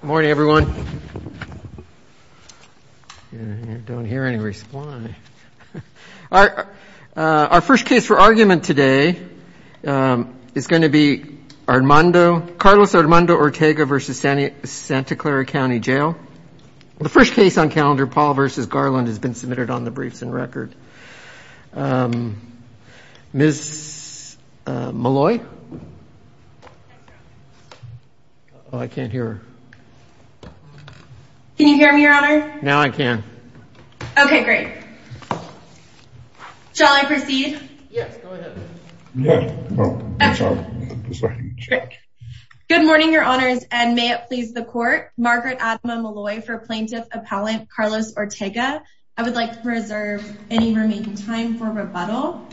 Good morning everyone. I don't hear any response. Our first case for argument today is going to be Armando, Carlos Armando Ortega v. Santa Clara County Jail. The first case on calendar Paul v. Garland has been submitted on Ms. Molloy. I can't hear her. Can you hear me your honor? Now I can. Okay great. Shall I proceed? Yes. Good morning your honors and may it please the court. Margaret Adama Molloy for plaintiff appellant Carlos Ortega. I would like to make time for rebuttal.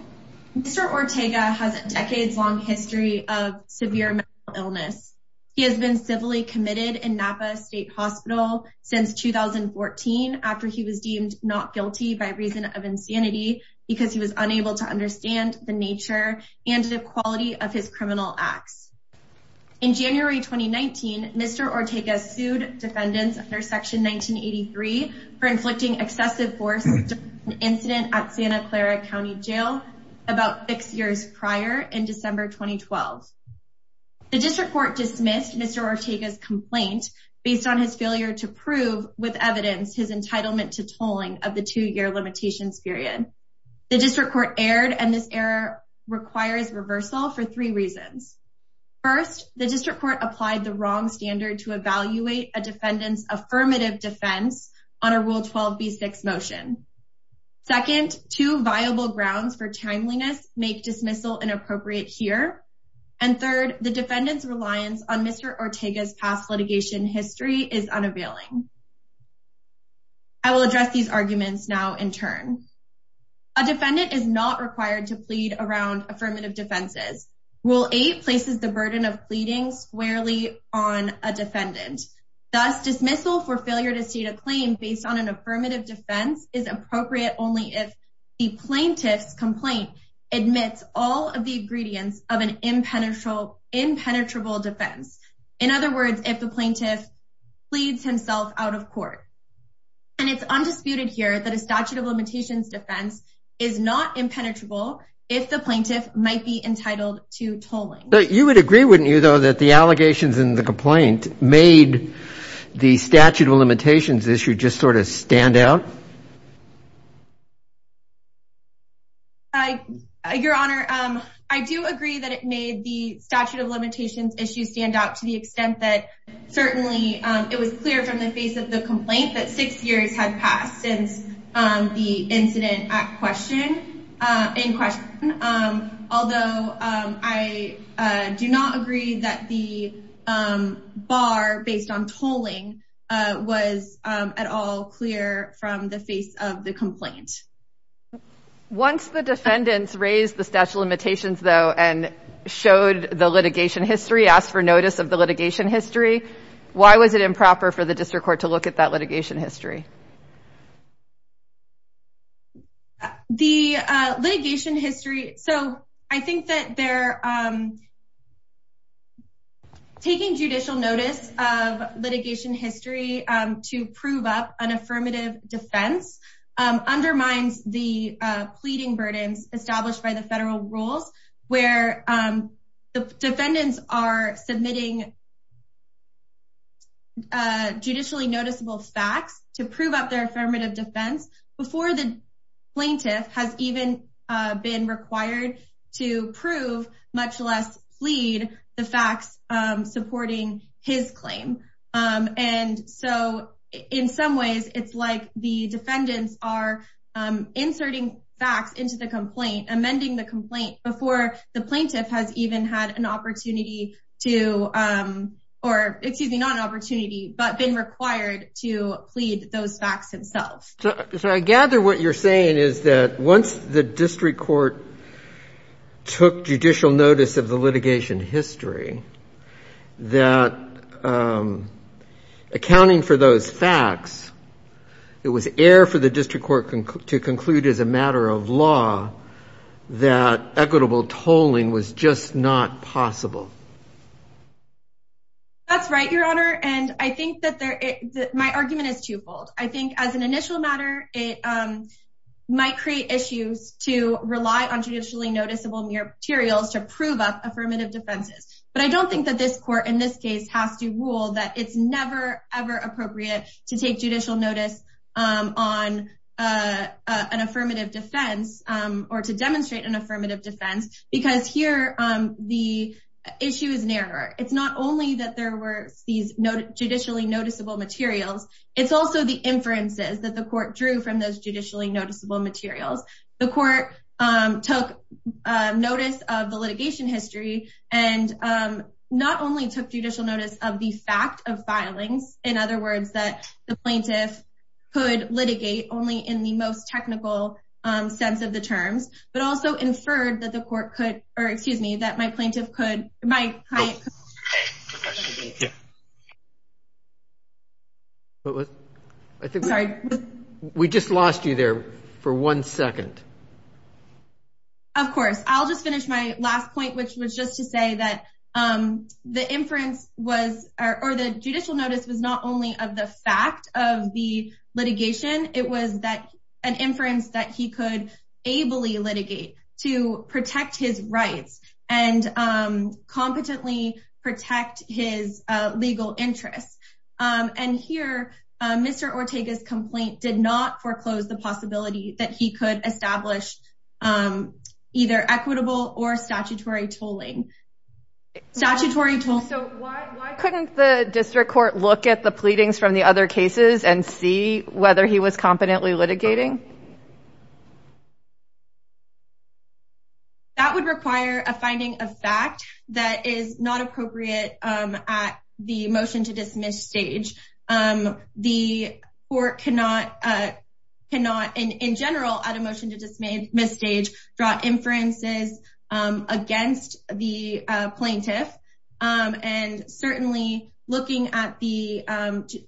Mr. Ortega has a decades-long history of severe mental illness. He has been civilly committed in Napa State Hospital since 2014 after he was deemed not guilty by reason of insanity because he was unable to understand the nature and the quality of his criminal acts. In January 2019, Mr. Ortega sued defendants under section 1983 for inflicting excessive force on Santa Clara County Jail about six years prior in December 2012. The district court dismissed Mr. Ortega's complaint based on his failure to prove with evidence his entitlement to tolling of the two-year limitations period. The district court erred and this error requires reversal for three reasons. First, the district court applied the wrong standard to evaluate a defendant's motion. Second, two viable grounds for timeliness make dismissal inappropriate here. And third, the defendant's reliance on Mr. Ortega's past litigation history is unavailing. I will address these arguments now in turn. A defendant is not required to plead around affirmative defenses. Rule 8 places the burden of pleading squarely on a defendant. Thus dismissal for failure to state a claim based on an affirmative defense is appropriate only if the plaintiff's complaint admits all of the ingredients of an impenetrable defense. In other words, if the plaintiff pleads himself out of court. And it's undisputed here that a statute of limitations defense is not impenetrable if the plaintiff might be entitled to tolling. You would agree, wouldn't you, though, that the allegations in the complaint made the statute of limitations issues stand out? Your Honor, I do agree that it made the statute of limitations issues stand out to the extent that certainly it was clear from the face of the complaint that six years had passed since the incident in question. Although I do not agree that the bar based on tolling was at all clear from the face of the complaint. Once the defendants raised the statute of limitations, though, and showed the litigation history, asked for notice of the litigation history, why was it improper for the district court to look at that litigation history? The litigation history, so I think that they're taking judicial notice of litigation history to prove up an affirmative defense undermines the pleading burdens established by the federal rules where the defendants are to prove up their affirmative defense before the plaintiff has even been required to prove, much less plead, the facts supporting his claim. And so in some ways it's like the defendants are inserting facts into the complaint, amending the complaint before the plaintiff has even had an opportunity to or excuse me, not an opportunity, but been required to plead those facts themselves. So I gather what you're saying is that once the district court took judicial notice of the litigation history, that accounting for those facts, it was air for the district court to conclude as a matter of law that equitable tolling was just not possible. That's right, your honor, and I think that my argument is twofold. I think as an initial matter, it might create issues to rely on judicially noticeable materials to prove up affirmative defenses. But I don't think that this court in this case has to rule that it's never, ever appropriate to take judicial notice on an affirmative defense or to defend because here the issue is narrower. It's not only that there were these judicially noticeable materials, it's also the inferences that the court drew from those judicially noticeable materials. The court took notice of the litigation history and not only took judicial notice of the fact of filings, in other words, that the plaintiff could litigate only in the most technical sense of the terms, but also inferred that the court could, or excuse me, that my plaintiff could, my client could litigate. We just lost you there for one second. Of course. I'll just finish my last point, which was just to say that the inference was, or the judicial notice was not only of the fact of the litigation, it was that an inference that he could ably litigate to protect his rights and competently protect his legal interests. And here, Mr. Ortega's complaint did not foreclose the possibility that he could establish either equitable or statutory tolling. Statutory tolling. So why couldn't the district court look at the evidence that he was competently litigating? That would require a finding of fact that is not appropriate at the motion to dismiss stage. The court cannot, in general, at a motion to dismiss stage, draw inferences against the plaintiff. And certainly looking at the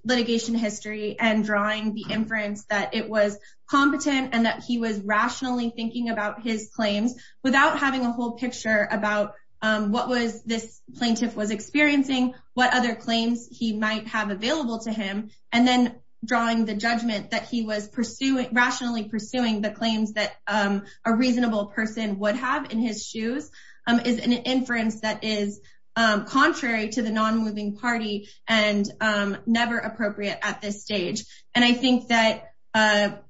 litigation history and drawing the inference that it was competent and that he was rationally thinking about his claims without having a whole picture about what this plaintiff was experiencing, what other claims he might have available to him, and then drawing the judgment that he was rationally pursuing the claims that a reasonable person would have in his shoes, is an inference that is contrary to the non-moving party and never appropriate at this stage. And I think that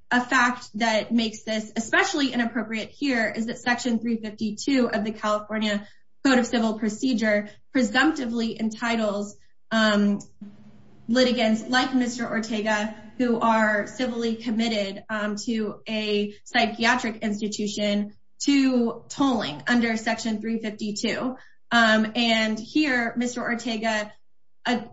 a fact that makes this especially inappropriate here is that Section 352 of the California Code of Civil Procedure presumptively entitles litigants like Mr. Ortega, who are civilly committed to a psychiatric institution, to tolling under Section 352. And here, Mr. Ortega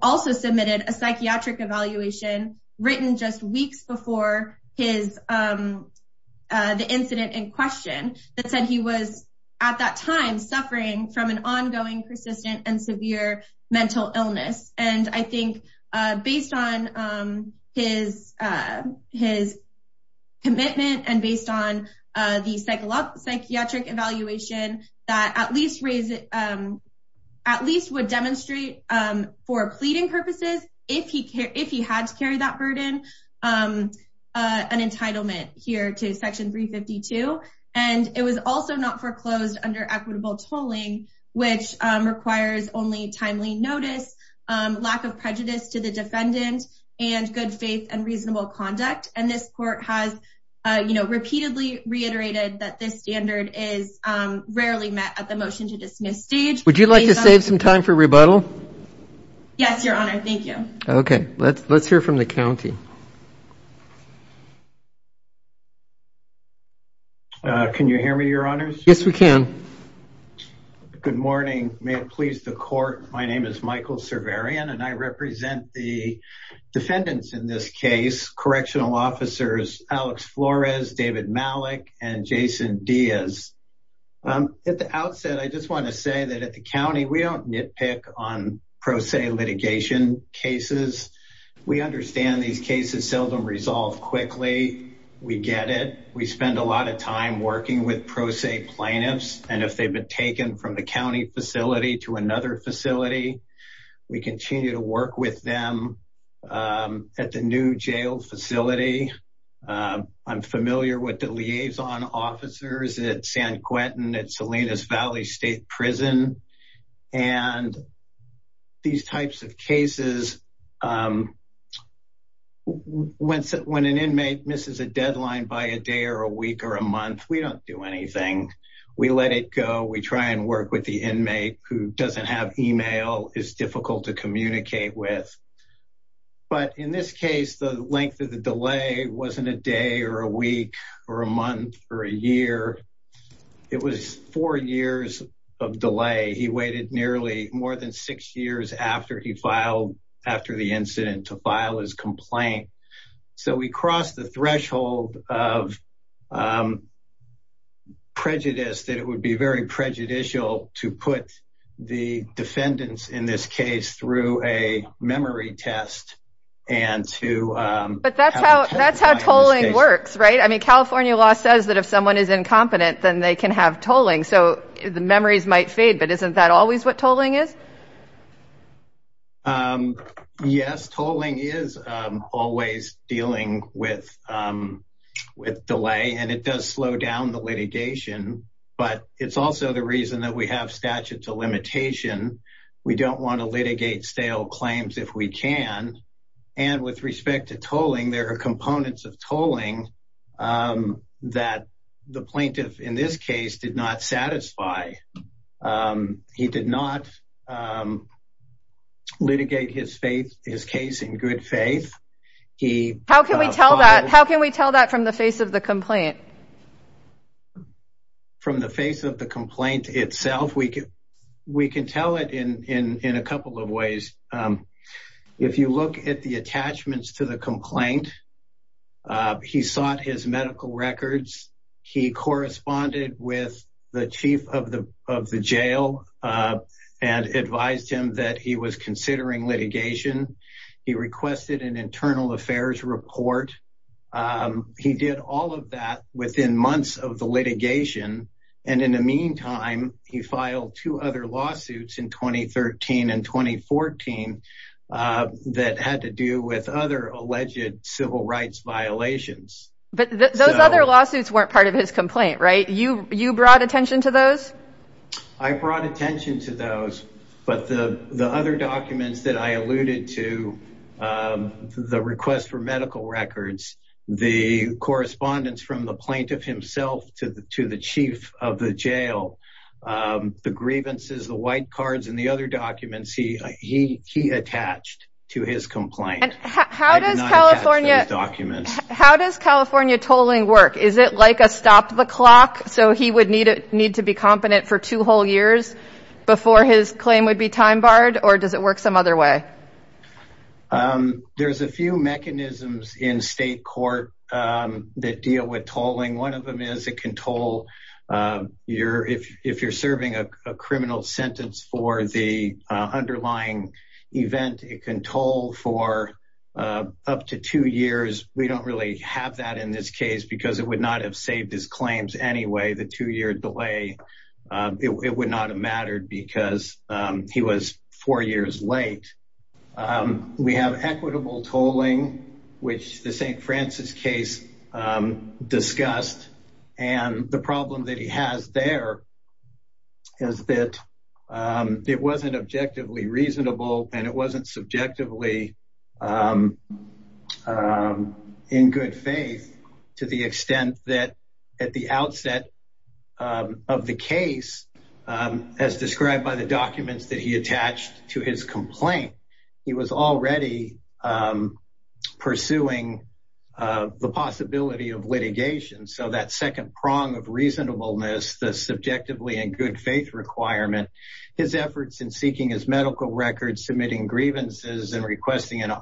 also submitted a psychiatric evaluation written just weeks before the incident in question that said he was, at that time, suffering from an ongoing persistent and severe mental illness. And I think, based on his commitment and based on the psychiatric evaluation, that at least would demonstrate for pleading purposes, if he had to carry that burden, an entitlement here to Section 352. And it was also not foreclosed under equitable tolling, which requires only timely notice, lack of prejudice to the defendant, and good faith and reasonable conduct. And this court has, you know, repeatedly reiterated that this standard is rarely met at the motion to dismiss stage. Would you like to save some time for rebuttal? Yes, your honor. Thank you. Okay, let's hear from the county. Can you hear me, your honors? Yes, we can. Good morning. May it please the court. My name is Michael Cerverian, and I represent the defendants in this case, correctional officers Alex Flores, David Malik, and Jason Diaz. At the outset, I just want to say that at the county, we don't nitpick on pro se litigation cases. We understand these cases seldom resolve quickly. We get it. We spend a lot of time working with pro se plaintiffs, and if they've been taken from the county facility to another facility, we continue to work with them at the new jail facility. I'm familiar with the liaison officers at San Quentin, at Salinas Valley State Prison. And these types of cases, um, when an inmate misses a deadline by a day or a week or a month, we don't do anything. We let it go. We try and work with the inmate who doesn't have email, is difficult to communicate with. But in this case, the length of the delay wasn't a day or a week or a month or a year. It was four years of delay. He waited nearly more than six years after he filed, after the incident, to file his complaint. So we crossed the threshold of, um, prejudice that it would be very prejudicial to put the defendants in this case through a memory test and to, um... But that's how, that's how tolling works, right? I mean, then they can have tolling. So the memories might fade, but isn't that always what tolling is? Um, yes, tolling is, um, always dealing with, um, with delay, and it does slow down the litigation. But it's also the reason that we have statute to limitation. We don't want to litigate stale claims if we can. And with respect to tolling, there are components of tolling, um, that the plaintiff in this case did not satisfy. Um, he did not, um, litigate his faith, his case in good faith. He... How can we tell that? How can we tell that from the face of the complaint? From the face of the complaint itself, we can, we can tell it in, in, in a couple of ways. Um, if you look at the attachments to the complaint, uh, he sought his medical records. He corresponded with the chief of the, of the jail, uh, and advised him that he was considering litigation. He requested an internal affairs report. Um, he did all of that within months of the litigation. And in the meantime, he filed two other lawsuits in 2013 and 2014, uh, that had to do with other alleged civil rights violations. But those other lawsuits weren't part of his complaint, right? You, you brought attention to those? I brought attention to those, but the, the other documents that I alluded to, um, the request for medical records, the correspondence from the plaintiff himself to the, to the chief of the jail, um, the grievances, the white cards, and the other documents, he, he, he attached to his complaint. How does California, how does California tolling work? Is it like a stop the clock? So he would need to, need to be competent for two whole years before his claim would be time barred, or does it work some other way? Um, there's a few mechanisms in state court, um, that deal with tolling. One of them is it can toll, um, your, if, if you're serving a criminal sentence for the, uh, underlying event, it can toll for, uh, up to two years. We don't really have that in this case because it would not have saved his claims anyway, the two year delay, um, it would not have mattered because, um, he was four years late. Um, we have equitable tolling, which the St. Francis case, um, discussed and the problem that he has there is that, um, it wasn't objectively reasonable and it wasn't subjectively, um, um, in good faith to the extent that at the outset, um, of the case, um, as he attached to his complaint, he was already, um, pursuing, uh, the possibility of litigation. So that second prong of reasonableness, the subjectively and good faith requirement, his efforts in seeking his medical records, submitting grievances and requesting an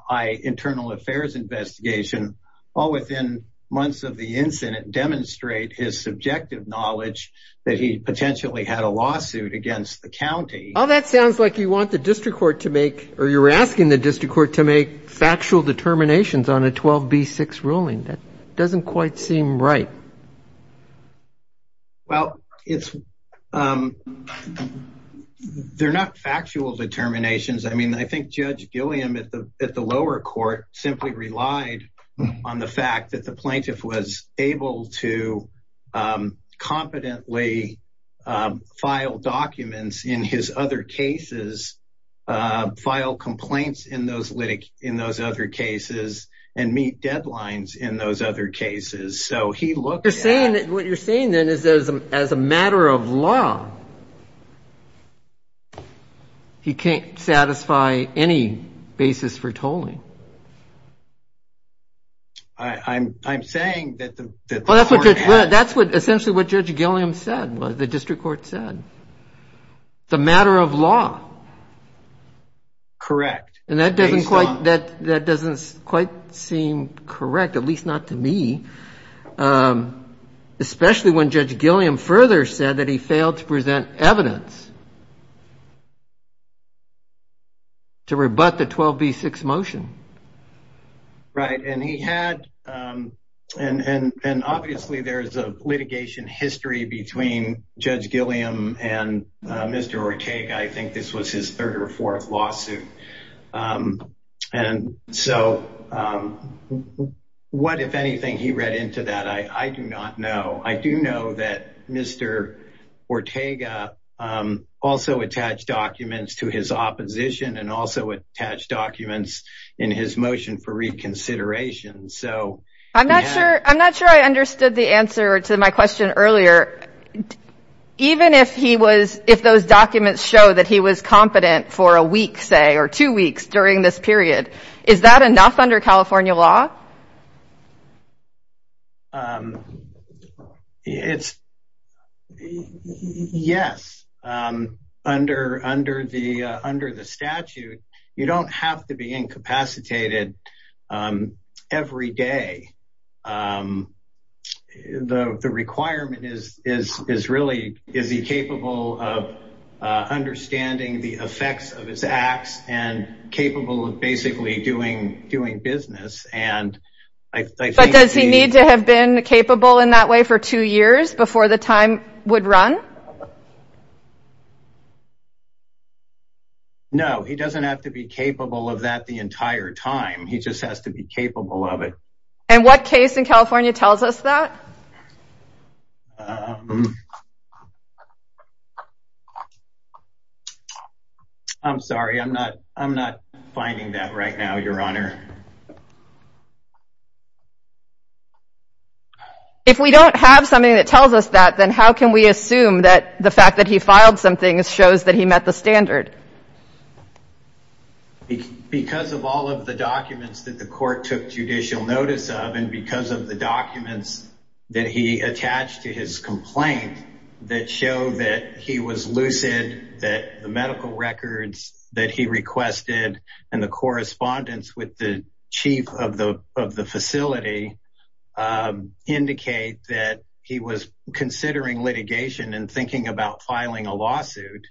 internal affairs investigation all within months of the incident demonstrate his subjective knowledge that he potentially had a lawsuit against the county. Oh, that sounds like you want the district court to make, or you're asking the district court to make factual determinations on a 12B6 ruling. That doesn't quite seem right. Well, it's, um, they're not factual determinations. I mean, I think Judge Gilliam at the, at the lower court simply relied on the fact that the plaintiff was able to, um, competently, um, file documents in his other cases, uh, file complaints in those litig- in those other cases and meet deadlines in those other cases. So he looked at- You're saying that what you're saying then is as a, as a matter of law, he can't satisfy any basis for tolling? I, I'm, I'm saying that the, that the court has- Well, that's what, that's what essentially what Judge Gilliam said, what the district court said. It's a matter of law. Correct. And that doesn't quite, that, that doesn't quite seem correct, at least not to me. Um, especially when Judge Gilliam further said that he failed to present evidence to rebut the 12B6 motion. Right. And he had, um, and, and, and obviously there's a litigation history between Judge Gilliam and, uh, Mr. Ortega. I think this was his third or fourth lawsuit. Um, and so, um, what, if anything, he read into that, I, I do not know. I do know that Mr. Ortega, um, also attached documents to his opposition and also attached documents in his motion for reconsideration. So- I'm not sure, I'm not sure I understood the answer to my question earlier. Um, even if he was, if those documents show that he was competent for a week, say, or two weeks during this period, is that enough under California law? Um, it's, yes. Um, under, under the, uh, under the statute, you don't have to be incapacitated, um, every day. Um, the, the requirement is, is, is really, is he capable of, uh, understanding the effects of his acts and capable of basically doing, doing business? And I think- But does he need to have been capable in that way for two years before the time would run? No, he doesn't have to be capable of that the entire time, he just has to be capable of it. And what case in California tells us that? Um, I'm sorry, I'm not, I'm not finding that right now, Your Honor. If we don't have something that tells us that, then how can we assume that, the fact that he filed something shows that he met the standard? Because of all of the documents that the court took judicial notice of and because of the documents that he attached to his complaint that show that he was lucid, that the medical records that he requested and the correspondence with the chief of the, of the facility, um, indicate that he was considering litigation and thinking about filing a lawsuit.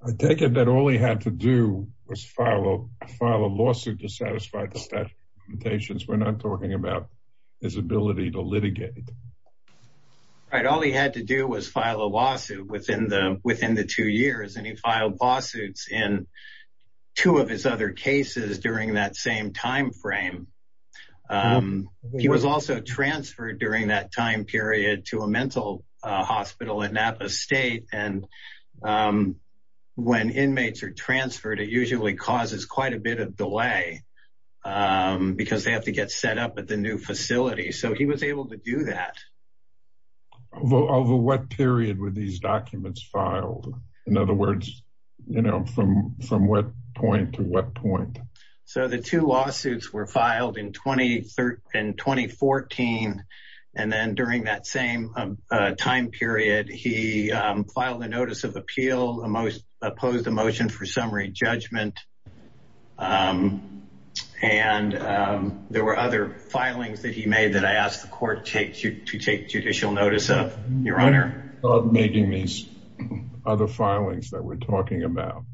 I take it that all he had to do was file a, file a lawsuit to satisfy the statute of limitations, we're not talking about his ability to litigate. Right, all he had to do was file a lawsuit within the, within the two years and he filed lawsuits in two of his other cases during that same time frame. He was also transferred during that time period to a mental hospital at Napa State. And when inmates are transferred, it usually causes quite a bit of delay because they have to get set up at the new facility. So he was able to do that. Well, over what period were these documents filed? In other words, you know, from, from what point to what point? So the two lawsuits were filed in 2013, 2014. And then during that same time period, he, um, filed a notice of appeal, a most opposed emotion for summary judgment. Um, and, um, there were other filings that he judicial notice of your honor of making these other filings that we're talking about.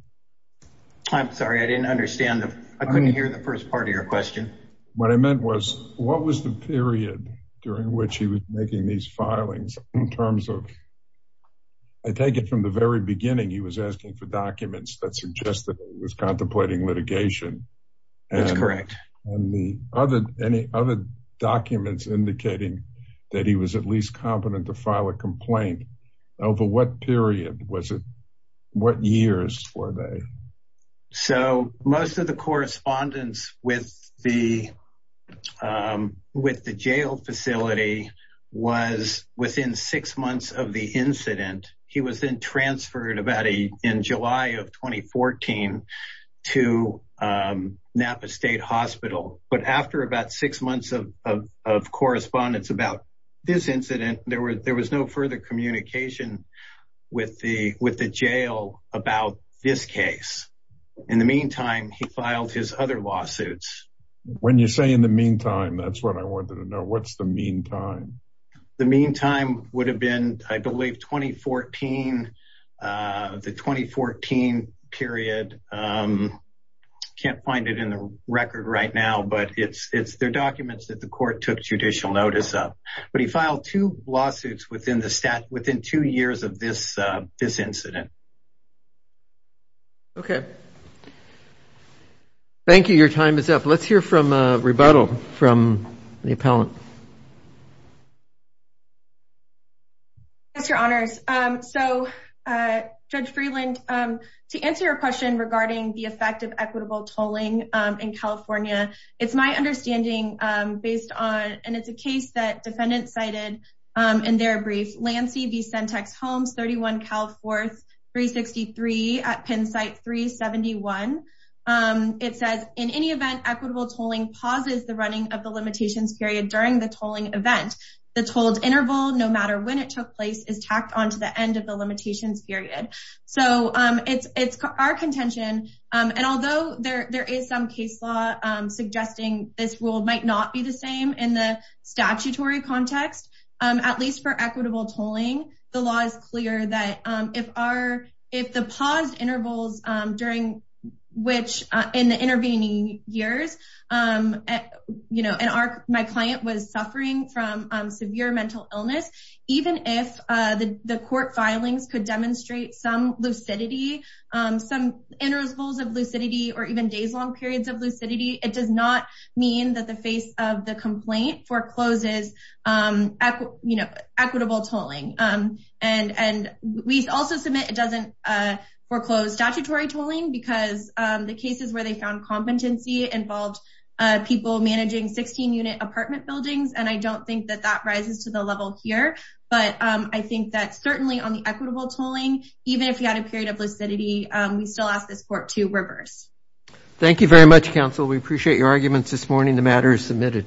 I'm sorry, I didn't understand. I couldn't hear the first part of your question. What I meant was what was the period during which he was making these filings in terms of, I take it from the very beginning, he was asking for documents that suggested he was contemplating litigation. That's correct. And the other, any other documents indicating that he was at least competent to file a complaint over what period was it? What years were they? So most of the correspondence with the, um, with the jail facility was within six months of the incident. He was in transferred about a, in July of 2014 to, um, Napa state hospital. But after about six months of, of, of correspondence about this incident, there were, there was no further communication with the, with the jail about this case. In the meantime, he filed his other lawsuits. When you say in the meantime, that's what I wanted to know. What's the meantime, the meantime would have been, I believe 2014, uh, the 2014 period. Um, can't find it in the record right now, but it's, it's their documents that the court took judicial notice of, but he filed two lawsuits within the stat within two years of this, uh, this incident. Okay. Thank you. Your time is up. Let's hear from a rebuttal from the appellant. Yes, your honors. Um, so, uh, judge Freeland, um, to answer your question regarding the effect of equitable tolling, um, in California, it's my understanding, um, based on, and it's a case that defendant cited, um, in their brief Lansky V. Sentex homes, 31 Cal fourth three 63 at Penn site three 71. Um, it says in any event, equitable tolling pauses the running of the limitations period during the tolling event, the tolls interval, no matter when it took place is tacked onto the end of the limitations period. So, um, it's, it's our contention. Um, and although there, there is some case law, um, suggesting this rule might not be the same in the statutory context, um, at least for equitable tolling, the law is clear that, um, if our, if the paused during which, uh, in the intervening years, um, you know, and our, my client was suffering from, um, severe mental illness, even if, uh, the, the court filings could demonstrate some lucidity, um, some intervals of lucidity or even days long periods of lucidity. It does not mean that the face of the complaint forecloses, um, you know, equitable tolling. Um, and, and we also submit, it doesn't, uh, foreclose statutory tolling because, um, the cases where they found competency involved, uh, people managing 16 unit apartment buildings. And I don't think that that rises to the level here, but, um, I think that certainly on the equitable tolling, even if you had a period of lucidity, um, we still ask this court to reverse. Thank you very much, counsel. We appreciate your arguments this morning. The matter is submitted.